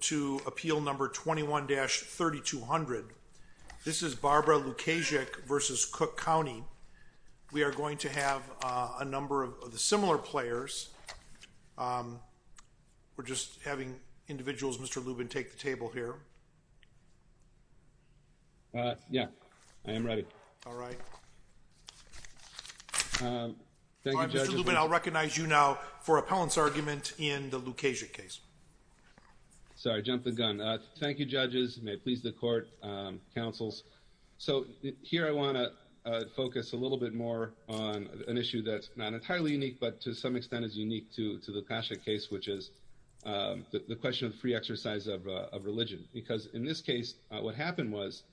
to appeal number 21-3200. This is Barbara Lukaszczyk v. Cook County. We are going to have a number of similar players. We're just having individuals, Mr. Lubin, take the table here. Yeah, I am ready. All right. Thank you, Judge. Mr. Lubin, I'll recognize you now for appellant's argument in the Lukaszczyk case. Sorry, I jumped the gun. Thank you, judges. May it please the court, counsels. So here I want to focus a little bit more on an issue that's not entirely unique, but to some extent is unique to the Lukaszczyk case, which is the question of free exercise of religion. Because in this case, what happened was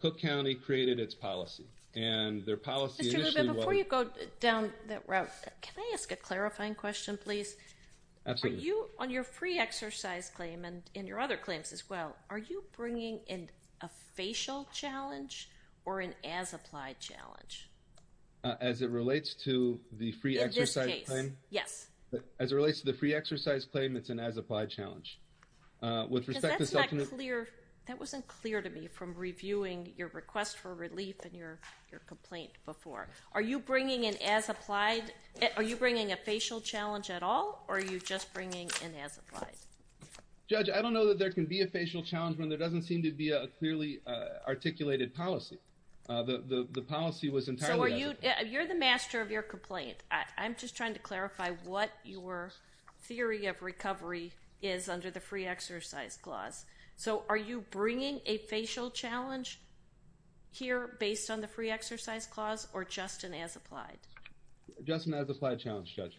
Cook County created its policy, and their policy initially was- Mr. Lubin, before you go down that route, can I ask a clarifying question, please? Absolutely. On your free exercise claim and in your other claims as well, are you bringing in a facial challenge or an as-applied challenge? As it relates to the free exercise claim? In this case, yes. As it relates to the free exercise claim, it's an as-applied challenge. With respect to- Because that's not clear. That wasn't clear to me from reviewing your request for relief and your complaint before. Are you bringing an as-applied, are you bringing a facial challenge at all, or are you just bringing an as-applied? Judge, I don't know that there can be a facial challenge when there doesn't seem to be a clearly articulated policy. The policy was entirely as- So are you, you're the master of your complaint. I'm just trying to clarify what your theory of recovery is under the free exercise clause. So are you bringing a facial challenge here based on the free exercise clause or just an as-applied? Just an as-applied challenge, Judge.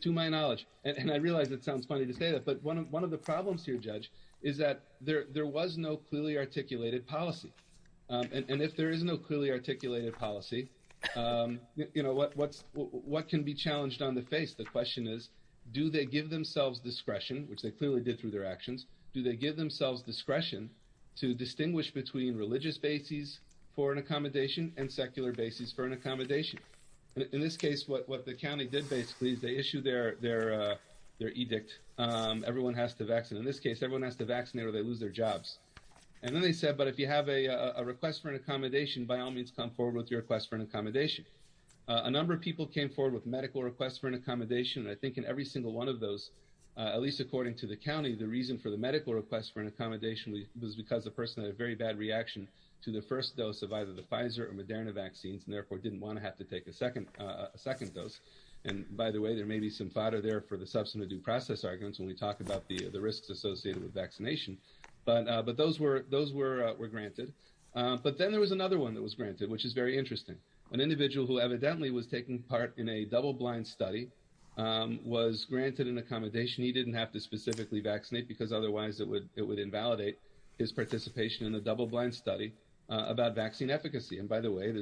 To my knowledge, and I realize it sounds funny to say that, but one of the problems here, Judge, is that there was no clearly articulated policy. And if there is no clearly articulated policy, what can be challenged on the face? The question is, do they give themselves discretion, which they clearly did through their actions, do they give themselves discretion to issue a request for an accommodation on a religious basis for an accommodation and secular basis for an accommodation? In this case, what the county did basically is they issued their edict. Everyone has to vaccinate. In this case, everyone has to vaccinate or they lose their jobs. And then they said, but if you have a request for an accommodation, by all means, come forward with your request for an accommodation. A number of people came forward with medical requests for an accommodation, and I think in every single one of those, at least according to the county, the reason for the medical request for an accommodation was because the person had a very bad reaction to the first dose of either the Pfizer or Moderna vaccines and therefore didn't want to have to take a second dose. And by the way, there may be some fodder there for the substantive due process arguments when we talk about the risks associated with vaccination, but those were granted. But then there was another one that was granted, which is very interesting. An individual who evidently was taking part in a double-blind study was granted an accommodation. He didn't have to specifically vaccinate because otherwise it would invalidate his participation in the double-blind study about vaccine efficacy. And by the way,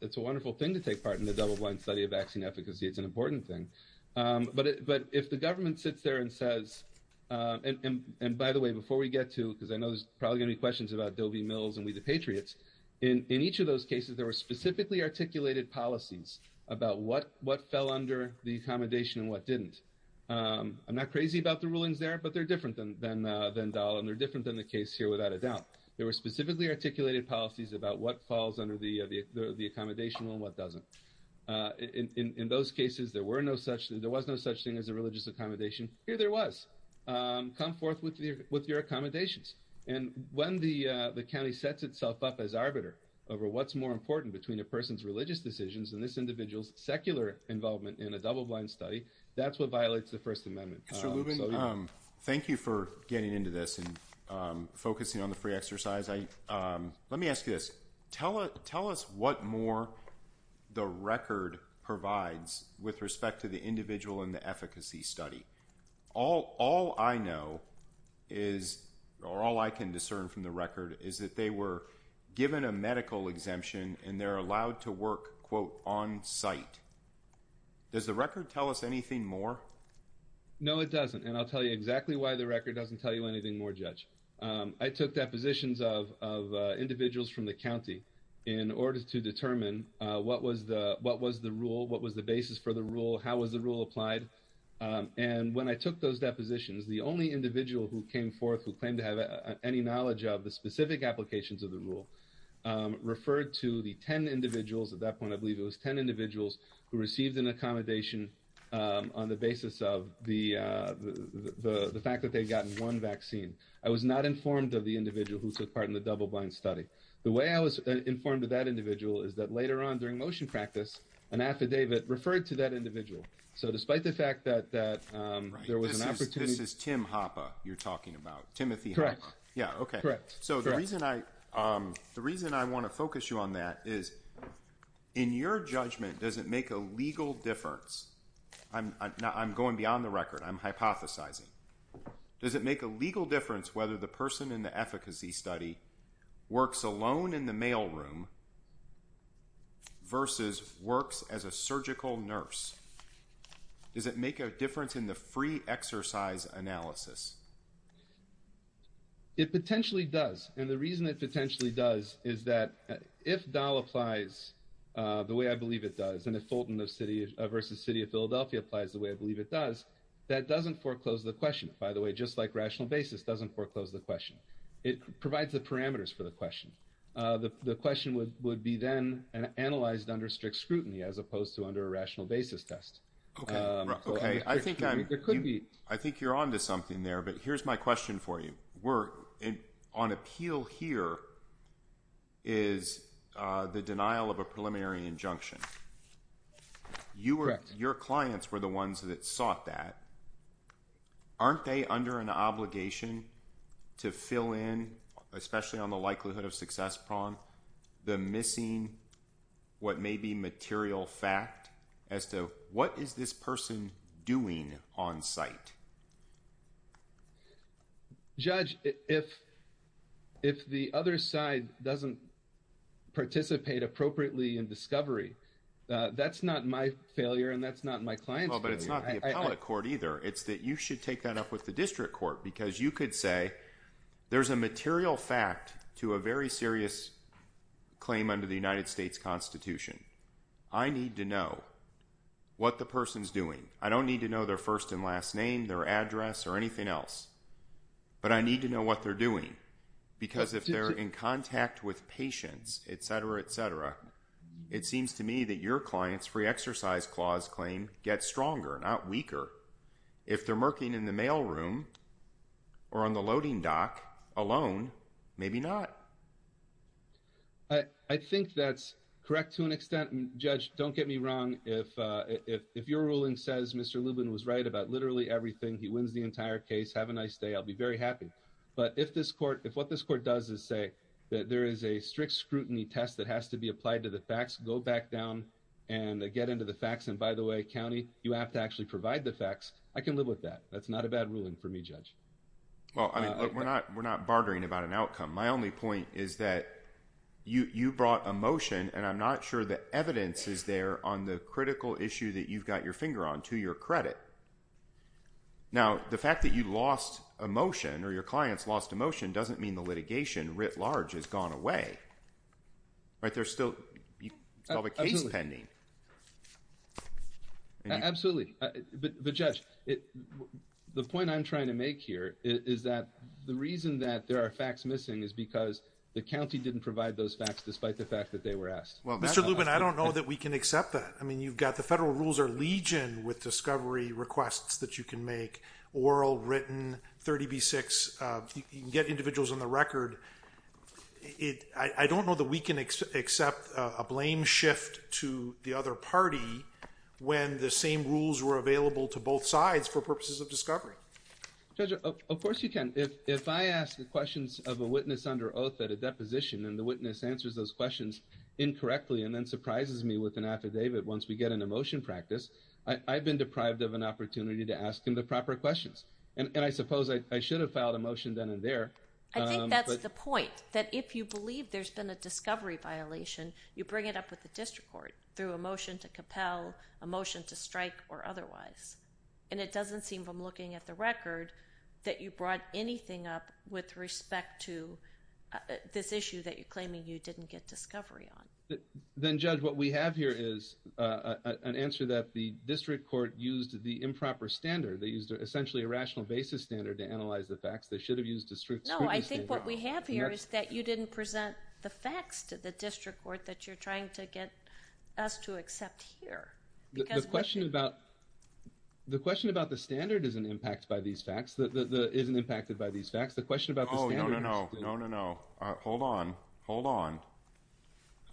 it's a wonderful thing to take part in the double-blind study of vaccine efficacy. It's an important thing. But if the government sits there and says, and by the way, before we get to, because I know there's probably going to be questions about Doe v. Mills and We the Patriots, in each of those cases, there were specifically articulated policies about what fell under the accommodation and what didn't. I'm not crazy about the rulings there, but they're different than Dole and they're different than the case here without a doubt. There were specifically articulated policies about what falls under the accommodation and what doesn't. In those cases, there was no such thing as a religious accommodation. Here there was. Come forth with your accommodations. And when the county sets itself up as arbiter over what's more important between a person's religious decisions and this individual's double-blind study, that's what violates the First Amendment. Mr. Lubin, thank you for getting into this and focusing on the free exercise. Let me ask you this. Tell us what more the record provides with respect to the individual and the efficacy study. All I know is, or all I can discern from the record, is that they given a medical exemption and they're allowed to work, quote, on site. Does the record tell us anything more? No, it doesn't. And I'll tell you exactly why the record doesn't tell you anything more, Judge. I took depositions of individuals from the county in order to determine what was the rule, what was the basis for the rule, how was the rule applied. And when I took those depositions, the only individual who came forth who claimed to have any knowledge of the specific applications of the rule referred to the 10 individuals, at that point I believe it was 10 individuals, who received an accommodation on the basis of the fact that they'd gotten one vaccine. I was not informed of the individual who took part in the double-blind study. The way I was informed of that individual is that later on during motion practice, an affidavit referred to that individual. So despite the fact that there was an opportunity... This is Tim Hoppe you're talking about. Timothy Hoppe. Correct. Yeah, okay. So the reason I want to focus you on that is, in your judgment, does it make a legal difference? I'm going beyond the record. I'm hypothesizing. Does it make a legal difference whether the person in the efficacy study works alone in the mailroom versus works as a surgical nurse? Does it make a difference in the free exercise analysis? It potentially does. And the reason it potentially does is that if DAL applies the way I believe it does, and if Fulton versus City of Philadelphia applies the way I believe it does, that doesn't foreclose the question. By the way, just like rational basis doesn't foreclose the question. It provides the parameters for the question. The question would be then analyzed under strict rational basis test. I think you're onto something there, but here's my question for you. On appeal here is the denial of a preliminary injunction. Your clients were the ones that sought that. Aren't they under an obligation to fill in, especially on the likelihood of success problem, the missing what may be material fact as to what is this person doing on site? Judge, if the other side doesn't participate appropriately in discovery, that's not my failure and that's not my client's failure. But it's not the appellate court either. It's that you should take that up with the district court because you could say there's a material fact to a very serious claim under the United States Constitution. I need to know what the person's doing. I don't need to know their first and last name, their address, or anything else, but I need to know what they're doing because if they're in contact with patients, etc., etc., it seems to me that your client's free exercise clause claim gets stronger, not weaker. If they're working in the mail room or on the loading dock alone, maybe not. I think that's correct to an extent. Judge, don't get me wrong. If your ruling says Mr. Lubin was right about literally everything, he wins the entire case. Have a nice day. I'll be very happy. But if what this court does is say that there is a strict scrutiny test that has to be applied to the facts, go back down and get into the facts. And by the way, county, you have to actually the facts. I can live with that. That's not a bad ruling for me, Judge. Well, we're not bartering about an outcome. My only point is that you brought a motion, and I'm not sure the evidence is there on the critical issue that you've got your finger on, to your credit. Now, the fact that you lost a motion or your client's lost a motion doesn't mean the litigation, writ large, has gone away. There's still a case pending. Absolutely. But, Judge, the point I'm trying to make here is that the reason that there are facts missing is because the county didn't provide those facts, despite the fact that they were asked. Well, Mr. Lubin, I don't know that we can accept that. I mean, you've got the federal rules are legion with discovery requests that you can make, oral, written, 30B6. You can individuals on the record. I don't know that we can accept a blame shift to the other party when the same rules were available to both sides for purposes of discovery. Judge, of course you can. If I ask the questions of a witness under oath at a deposition, and the witness answers those questions incorrectly and then surprises me with an affidavit once we get into motion practice, I've been deprived of an opportunity to ask him the question. I think that's the point, that if you believe there's been a discovery violation, you bring it up with the district court through a motion to compel, a motion to strike, or otherwise. And it doesn't seem from looking at the record that you brought anything up with respect to this issue that you're claiming you didn't get discovery on. Then, Judge, what we have here is an answer that the district court used the improper standard. They used essentially a rational basis standard to analyze the facts. They should have used a scrutiny standard. No, I think what we have here is that you didn't present the facts to the district court that you're trying to get us to accept here. The question about the standard isn't impacted by these facts. The question about the standard... Oh, no, no, no. Hold on. Hold on.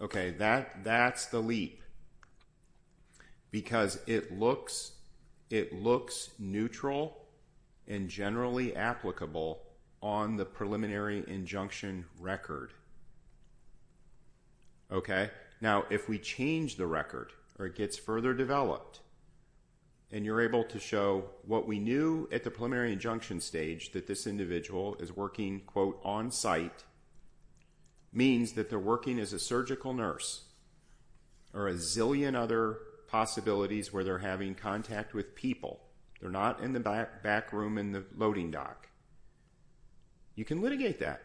Okay, that's the leap because it looks neutral and generally applicable on the preliminary injunction record. Okay, now if we change the record or it gets further developed, and you're able to show what we knew at the preliminary injunction stage that this individual is working, quote, on site, means that they're working as a surgical nurse, or a zillion other possibilities where they're having contact with people. They're not in the back room in the loading dock. You can litigate that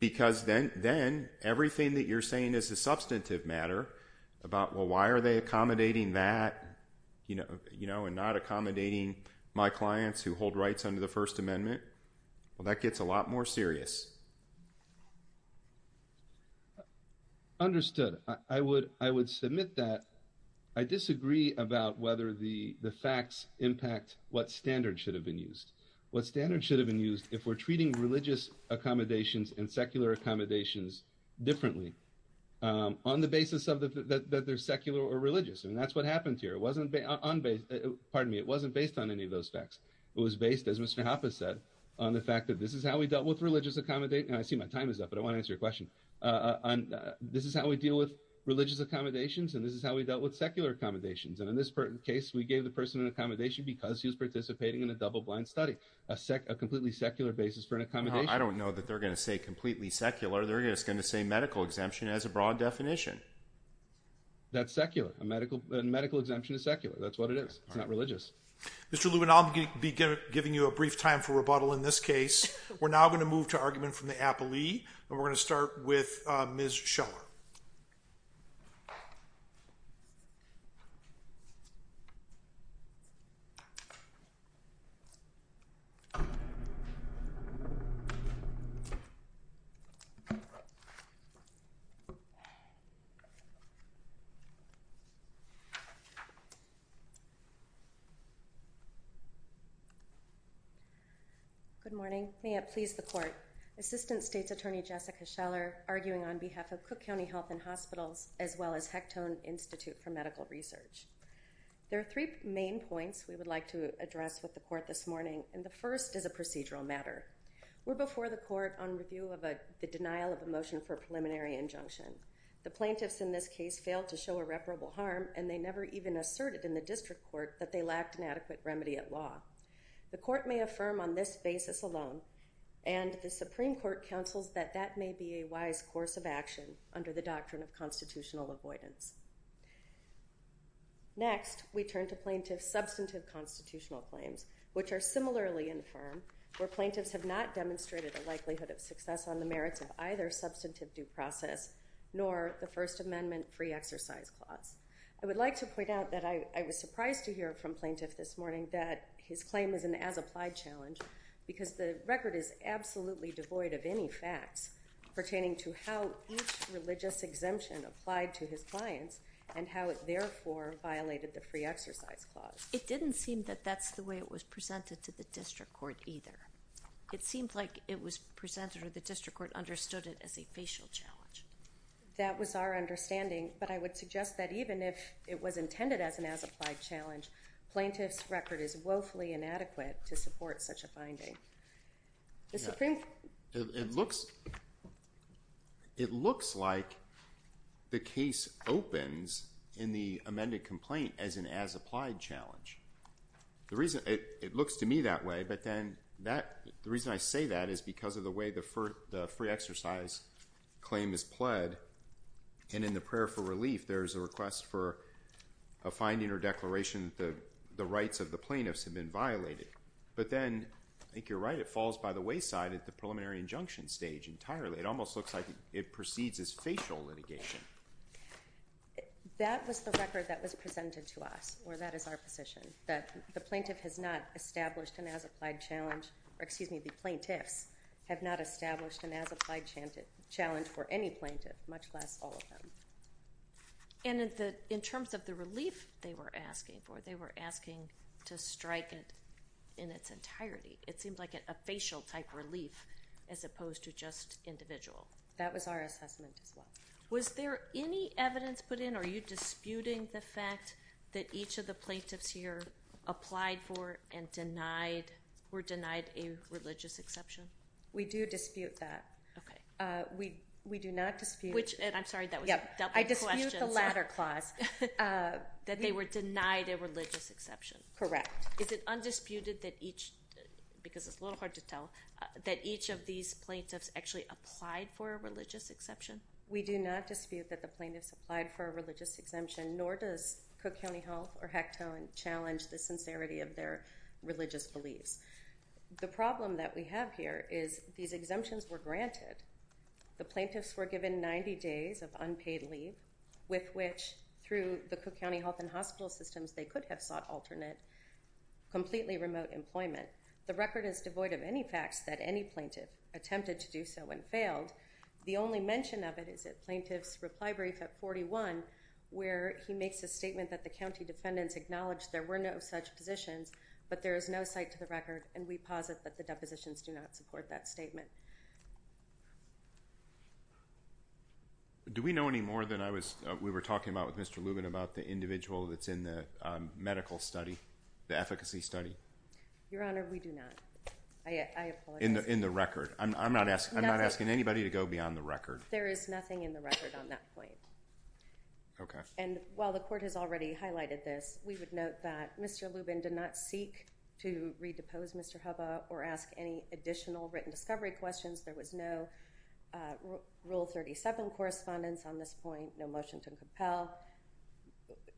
because then everything that you're saying is a substantive matter about, well, why are they under the First Amendment? Well, that gets a lot more serious. Understood. I would submit that. I disagree about whether the facts impact what standard should have been used. What standard should have been used if we're treating religious accommodations and secular accommodations differently on the basis that they're secular or religious, and that's what happened here. It wasn't based on any of those facts. It was based, as Mr. Hapa said, on the fact that this is how we dealt with religious accommodate, and I see my time is up, but I want to answer your question. This is how we deal with religious accommodations, and this is how we dealt with secular accommodations, and in this case, we gave the person an accommodation because he was participating in a double-blind study, a completely secular basis for an accommodation. I don't know that they're going to say completely secular. They're just going to say medical exemption as a broad definition. That's secular. A medical exemption is secular. That's what it is. It's not religious. Mr. Lewin, I'll be giving you a brief time for rebuttal in this case. We're now going to move to argument from the appellee, and we're going to start with Ms. Scheller. Good morning. May it please the court. Assistant State's Attorney Jessica Scheller, arguing on behalf of Cook County Health and Hospitals, as well as Hectone Institute for Medical Research. There are three main points we would like to address with the court this morning, and the first is a procedural matter. We're before the court on review of the denial of a motion for preliminary injunction. The plaintiffs in this case failed to show irreparable harm, and they never even asserted in the district court that they lacked an injunction. The plaintiffs have not shown adequate remedy at law. The court may affirm on this basis alone, and the Supreme Court counsels that that may be a wise course of action under the doctrine of constitutional avoidance. Next, we turn to plaintiff's substantive constitutional claims, which are similarly infirm, where plaintiffs have not demonstrated a likelihood of success on the merits of either substantive due process, nor the First Amendment free exercise clause. I would like to point out that I was surprised to hear from plaintiff this morning that his claim is an as-applied challenge, because the record is absolutely devoid of any facts pertaining to how each religious exemption applied to his clients, and how it therefore violated the free exercise clause. It didn't seem that that's the way it was presented to the district court either. It seemed like it was presented or the district court understood it as a facial challenge. That was our understanding, but I would suggest that even if it was intended as an as-applied challenge, plaintiff's record is woefully inadequate to support such a finding. It looks like the case opens in the amended complaint as an as-applied challenge. It looks to me that way, but then the reason I say that is because of the way the free exercise claim is pled, and in the prayer for relief, there's a request for a finding or declaration that the rights of the plaintiffs have been violated, but then I think you're right, it falls by the wayside at the preliminary injunction stage entirely. It almost looks like it proceeds as facial litigation. That was the record that was presented to us, or that is our position, that the plaintiff has not established an as-applied challenge, or excuse me, the plaintiffs have not established an as-applied challenge for any plaintiff, much less all of them. And in terms of the relief they were asking for, they were asking to strike it in its entirety. It seemed like a facial type relief as opposed to just individual. That was our assessment as well. Was there any evidence put in? Are you disputing the fact that each of the plaintiffs here applied for and denied, were denied a religious exception? We do dispute that. We do not dispute. Which, and I'm sorry, that was a double question. I dispute the latter clause. That they were denied a religious exception. Correct. Is it undisputed that each, because it's a little hard to tell, that each of these plaintiffs actually applied for a religious exception? We do not dispute that the plaintiffs applied for a religious exemption, nor does Cook County Health or Hectone challenge the sincerity of their religious beliefs. The problem that we have here is these exemptions were granted. The plaintiffs were given 90 days of unpaid leave with which, through the Cook County Health and Hospital systems, they could have sought alternate, completely remote employment. The record is devoid of any facts that any plaintiff attempted to do so and failed. The only mention of it is at Plaintiff's Reply Brief at 41, where he makes a statement that the county defendants acknowledged there were no such positions, but there is no cite to the record, and we posit that the depositions do not support that statement. Do we know any more than I was, we were talking about with Mr. Lubin, about the individual that's in the medical study, the efficacy study? Your Honor, we do not. I apologize. In the record. I'm not asking anybody to go beyond the record. There is nothing in the record on that point. And while the court has already highlighted this, we would note that Mr. Lubin did not seek to redepose Mr. Hubba or ask any additional written discovery questions. There was no Rule 37 correspondence on this point, no motion to compel.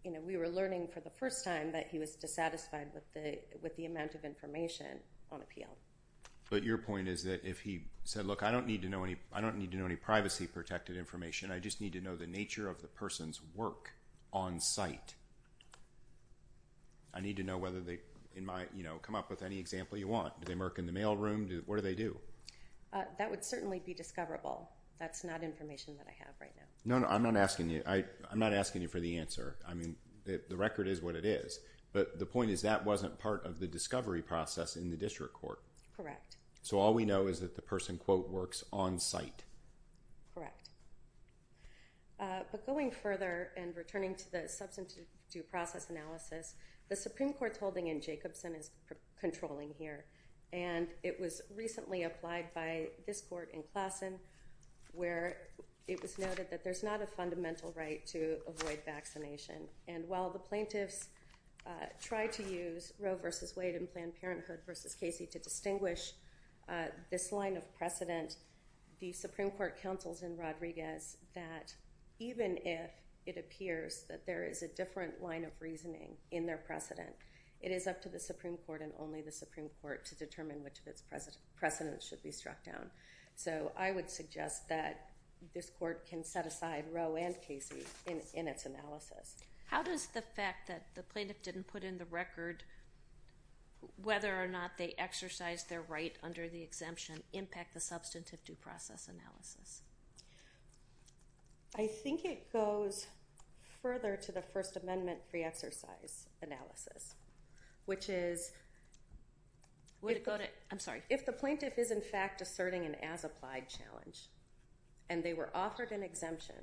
You know, we were learning for the first time that he was dissatisfied with the amount of information on appeal. But your point is that if he said, look, I don't need to know any, I don't need to know any privacy protected information. I just need to know the nature of the person's work on site. I need to know whether they, in my, you know, come up with any example you want. Do they work in the mail room? What do they do? That would certainly be discoverable. That's not information that I have right now. No, no, I'm not asking you, I'm not asking you for the answer. I mean, the record is what it is. But the point is that wasn't part of the discovery process in the district court. Correct. So all we know is that the person, quote, works on site. Correct. But going further and returning to the substantive due process analysis, the Supreme Court's holding in Jacobson is controlling here. And it was recently applied by this court in Klassen, where it was noted that there's not a fundamental right to avoid vaccination. And while the plaintiffs try to use Roe versus Wade and Planned Parenthood versus Casey to distinguish this line of precedent, the Supreme Court counsels in Rodriguez that even if it appears that there is a different line of reasoning in their precedent, it is up to the Supreme Court and only the Supreme Court to determine which of its precedents should be struck down. So I would suggest that this court can set aside Roe and Casey in its analysis. How does the fact that the plaintiff didn't put in the record whether or not they exercised their right under the exemption impact the substantive due process analysis? I think it goes further to the First Amendment free exercise analysis, which is... I'm sorry. If the plaintiff is, in fact, asserting an as-applied challenge and they were offered an exemption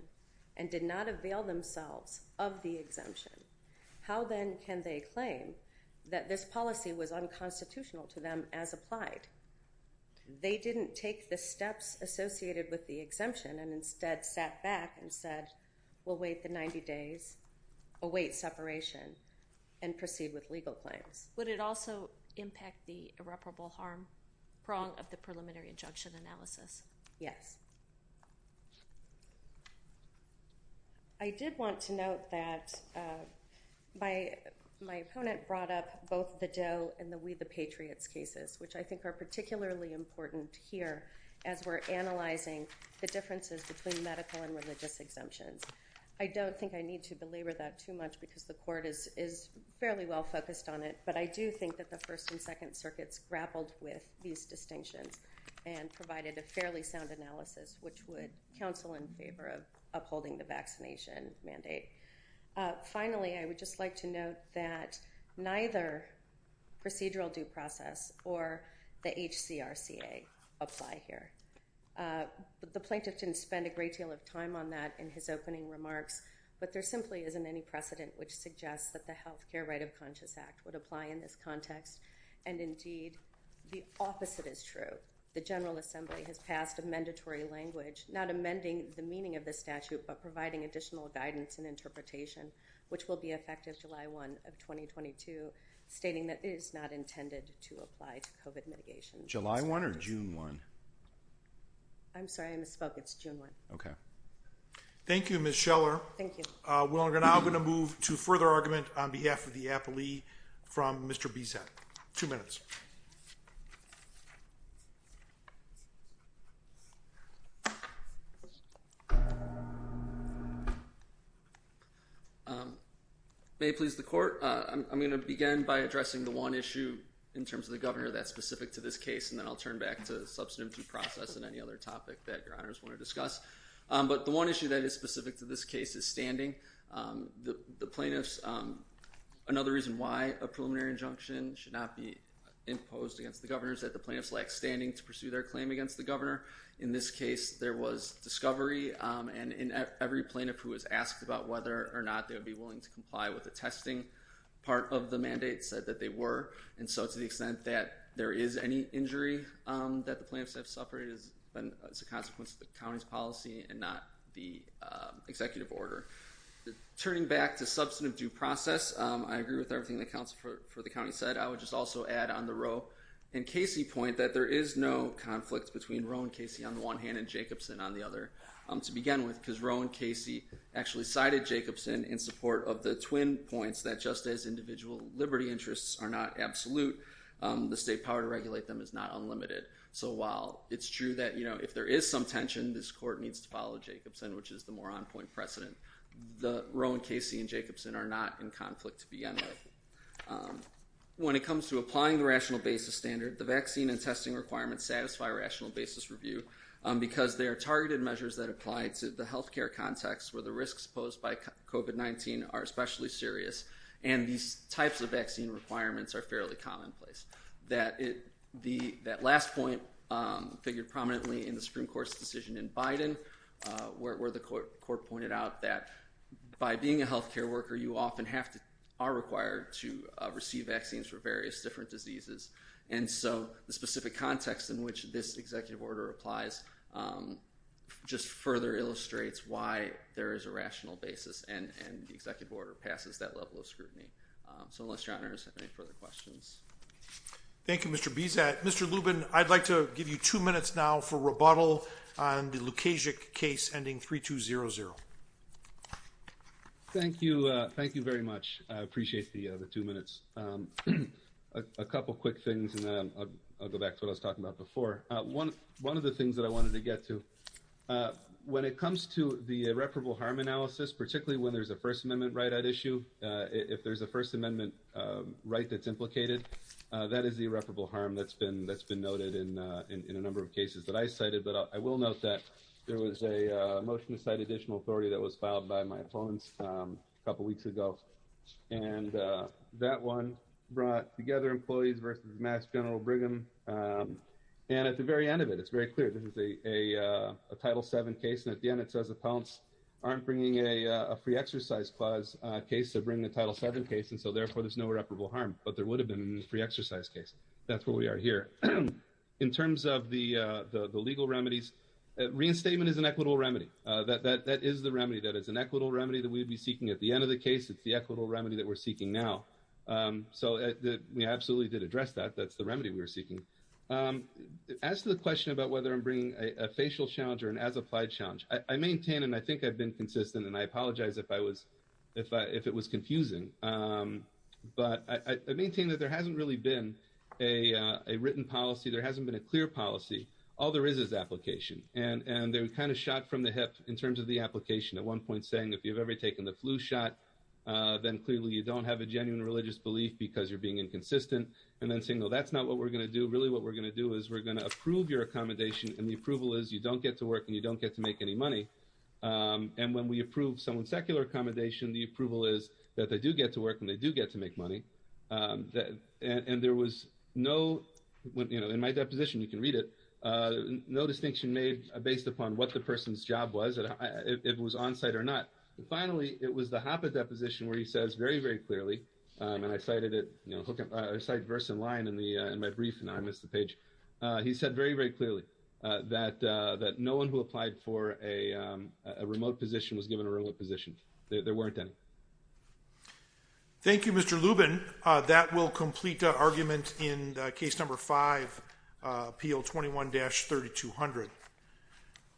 and did not avail themselves of the exemption, how then can they claim that this policy was unconstitutional to them as applied? They didn't take the steps associated with the exemption and instead sat back and said, we'll wait the 90 days, await separation, and proceed with legal claims. Would it also impact the irreparable harm prong of the preliminary injunction analysis? Yes. I did want to note that my opponent brought up both the Doe and the We the Patriots cases, which I think are particularly important here as we're analyzing the differences between medical and religious exemptions. I don't think I need to belabor that too much because the court is fairly well focused on it, but I do think that the First and Second Circuits grappled with these distinctions and provided a fairly sound analysis. Which would counsel in favor of upholding the vaccination mandate. Finally, I would just like to note that neither procedural due process or the HCRCA apply here. The plaintiff didn't spend a great deal of time on that in his opening remarks, but there simply isn't any precedent which suggests that the Healthcare Right of Conscious Act would apply in this context. And indeed, the opposite is true. The General Assembly has passed a mandatory language, not amending the meaning of the statute, but providing additional guidance and interpretation, which will be effective July 1 of 2022, stating that it is not intended to apply to COVID mitigation. July 1 or June 1? I'm sorry, I misspoke. It's June 1. OK. Thank you, Ms. Scheller. Thank you. We're now going to move to further argument on behalf of the appellee from Mr. Bissett. Two minutes. May it please the court. I'm going to begin by addressing the one issue in terms of the governor that's specific to this case, and then I'll turn back to the substantive due process and any other topic that your honors want to discuss. But the one issue that is specific to this case is standing. The plaintiffs, another reason why a preliminary injunction should not be their claim against the governor. In this case, there was discovery, and every plaintiff who was asked about whether or not they would be willing to comply with the testing part of the mandate said that they were. And so to the extent that there is any injury that the plaintiffs have suffered has been as a consequence of the county's policy and not the executive order. Turning back to substantive due process, I agree with everything the counsel for the said. I would just also add on the Roe and Casey point that there is no conflict between Roe and Casey on the one hand and Jacobson on the other to begin with, because Roe and Casey actually cited Jacobson in support of the twin points that just as individual liberty interests are not absolute, the state power to regulate them is not unlimited. So while it's true that if there is some tension, this court needs to follow Jacobson, which is the more on-point precedent. The Roe and Casey and Jacobson are not in conflict to begin with. When it comes to applying the rational basis standard, the vaccine and testing requirements satisfy rational basis review because they are targeted measures that apply to the health care context where the risks posed by COVID-19 are especially serious, and these types of vaccine requirements are fairly commonplace. That last point figured prominently in the Supreme Court's decision in Biden, where the court pointed out that by being a health care worker, you often have to, are required to receive vaccines for various different diseases. And so the specific context in which this executive order applies just further illustrates why there is a rational basis and the executive order passes that level of scrutiny. So unless your honors have any further questions. Thank you, Mr. Bezat. Mr. Lubin, I'd like to give you two minutes now for rebuttal on the Lukasik case ending 3200. Thank you. Thank you very much. I appreciate the two minutes. A couple quick things, and then I'll go back to what I was talking about before. One of the things that I wanted to get to, when it comes to the irreparable harm analysis, particularly when there's a First Amendment right at issue, if there's a First Amendment right that's implicated, that is the irreparable harm that's been noted in a number of cases that I cited. But I will note that there was a motion to cite additional authority that was filed by my opponents a couple weeks ago. And that one brought together employees versus Mass General Brigham. And at the very end of it, it's very clear, this is a Title VII case. And at the end, it says, opponents aren't bringing a free exercise clause case. They're bringing a Title VII case. And so therefore, there's no irreparable harm. But there would have been in the free exercise case. That's where we are here. In terms of the legal remedies, reinstatement is an equitable remedy. That is the remedy. That is an equitable remedy that we'd be seeking. At the end of the case, it's the equitable remedy that we're seeking now. So we absolutely did address that. That's the remedy we were seeking. As to the question about whether I'm bringing a facial challenge or an as-applied challenge, I maintain, and I think I've been consistent, and I apologize if it was confusing. But I maintain that there hasn't really been a written policy. There hasn't been a clear policy. All there is is application. And they're kind of shot from the hip in terms of the application. At one point saying, if you've ever taken the flu shot, then clearly you don't have a genuine religious belief because you're being inconsistent. And then saying, no, that's not what we're going to do. Really, what we're going to do is we're going to approve your accommodation. And the approval is you don't get to work and you don't get to make any money. And when we approve someone's secular accommodation, the approval is that they do get to work and they do get to make money. And there was no, you know, in my deposition, you can read it, no distinction made based upon what the person's job was, if it was on-site or not. Finally, it was the HAPA deposition where he says very, very clearly, and I cited it, you know, I cited verse and line in my brief, and I missed the page. He said very, very clearly that no one who applied for a remote position was given a remote position. There weren't any. Thank you, Mr. Lubin. That will complete the argument in case number five, appeal 21-3200.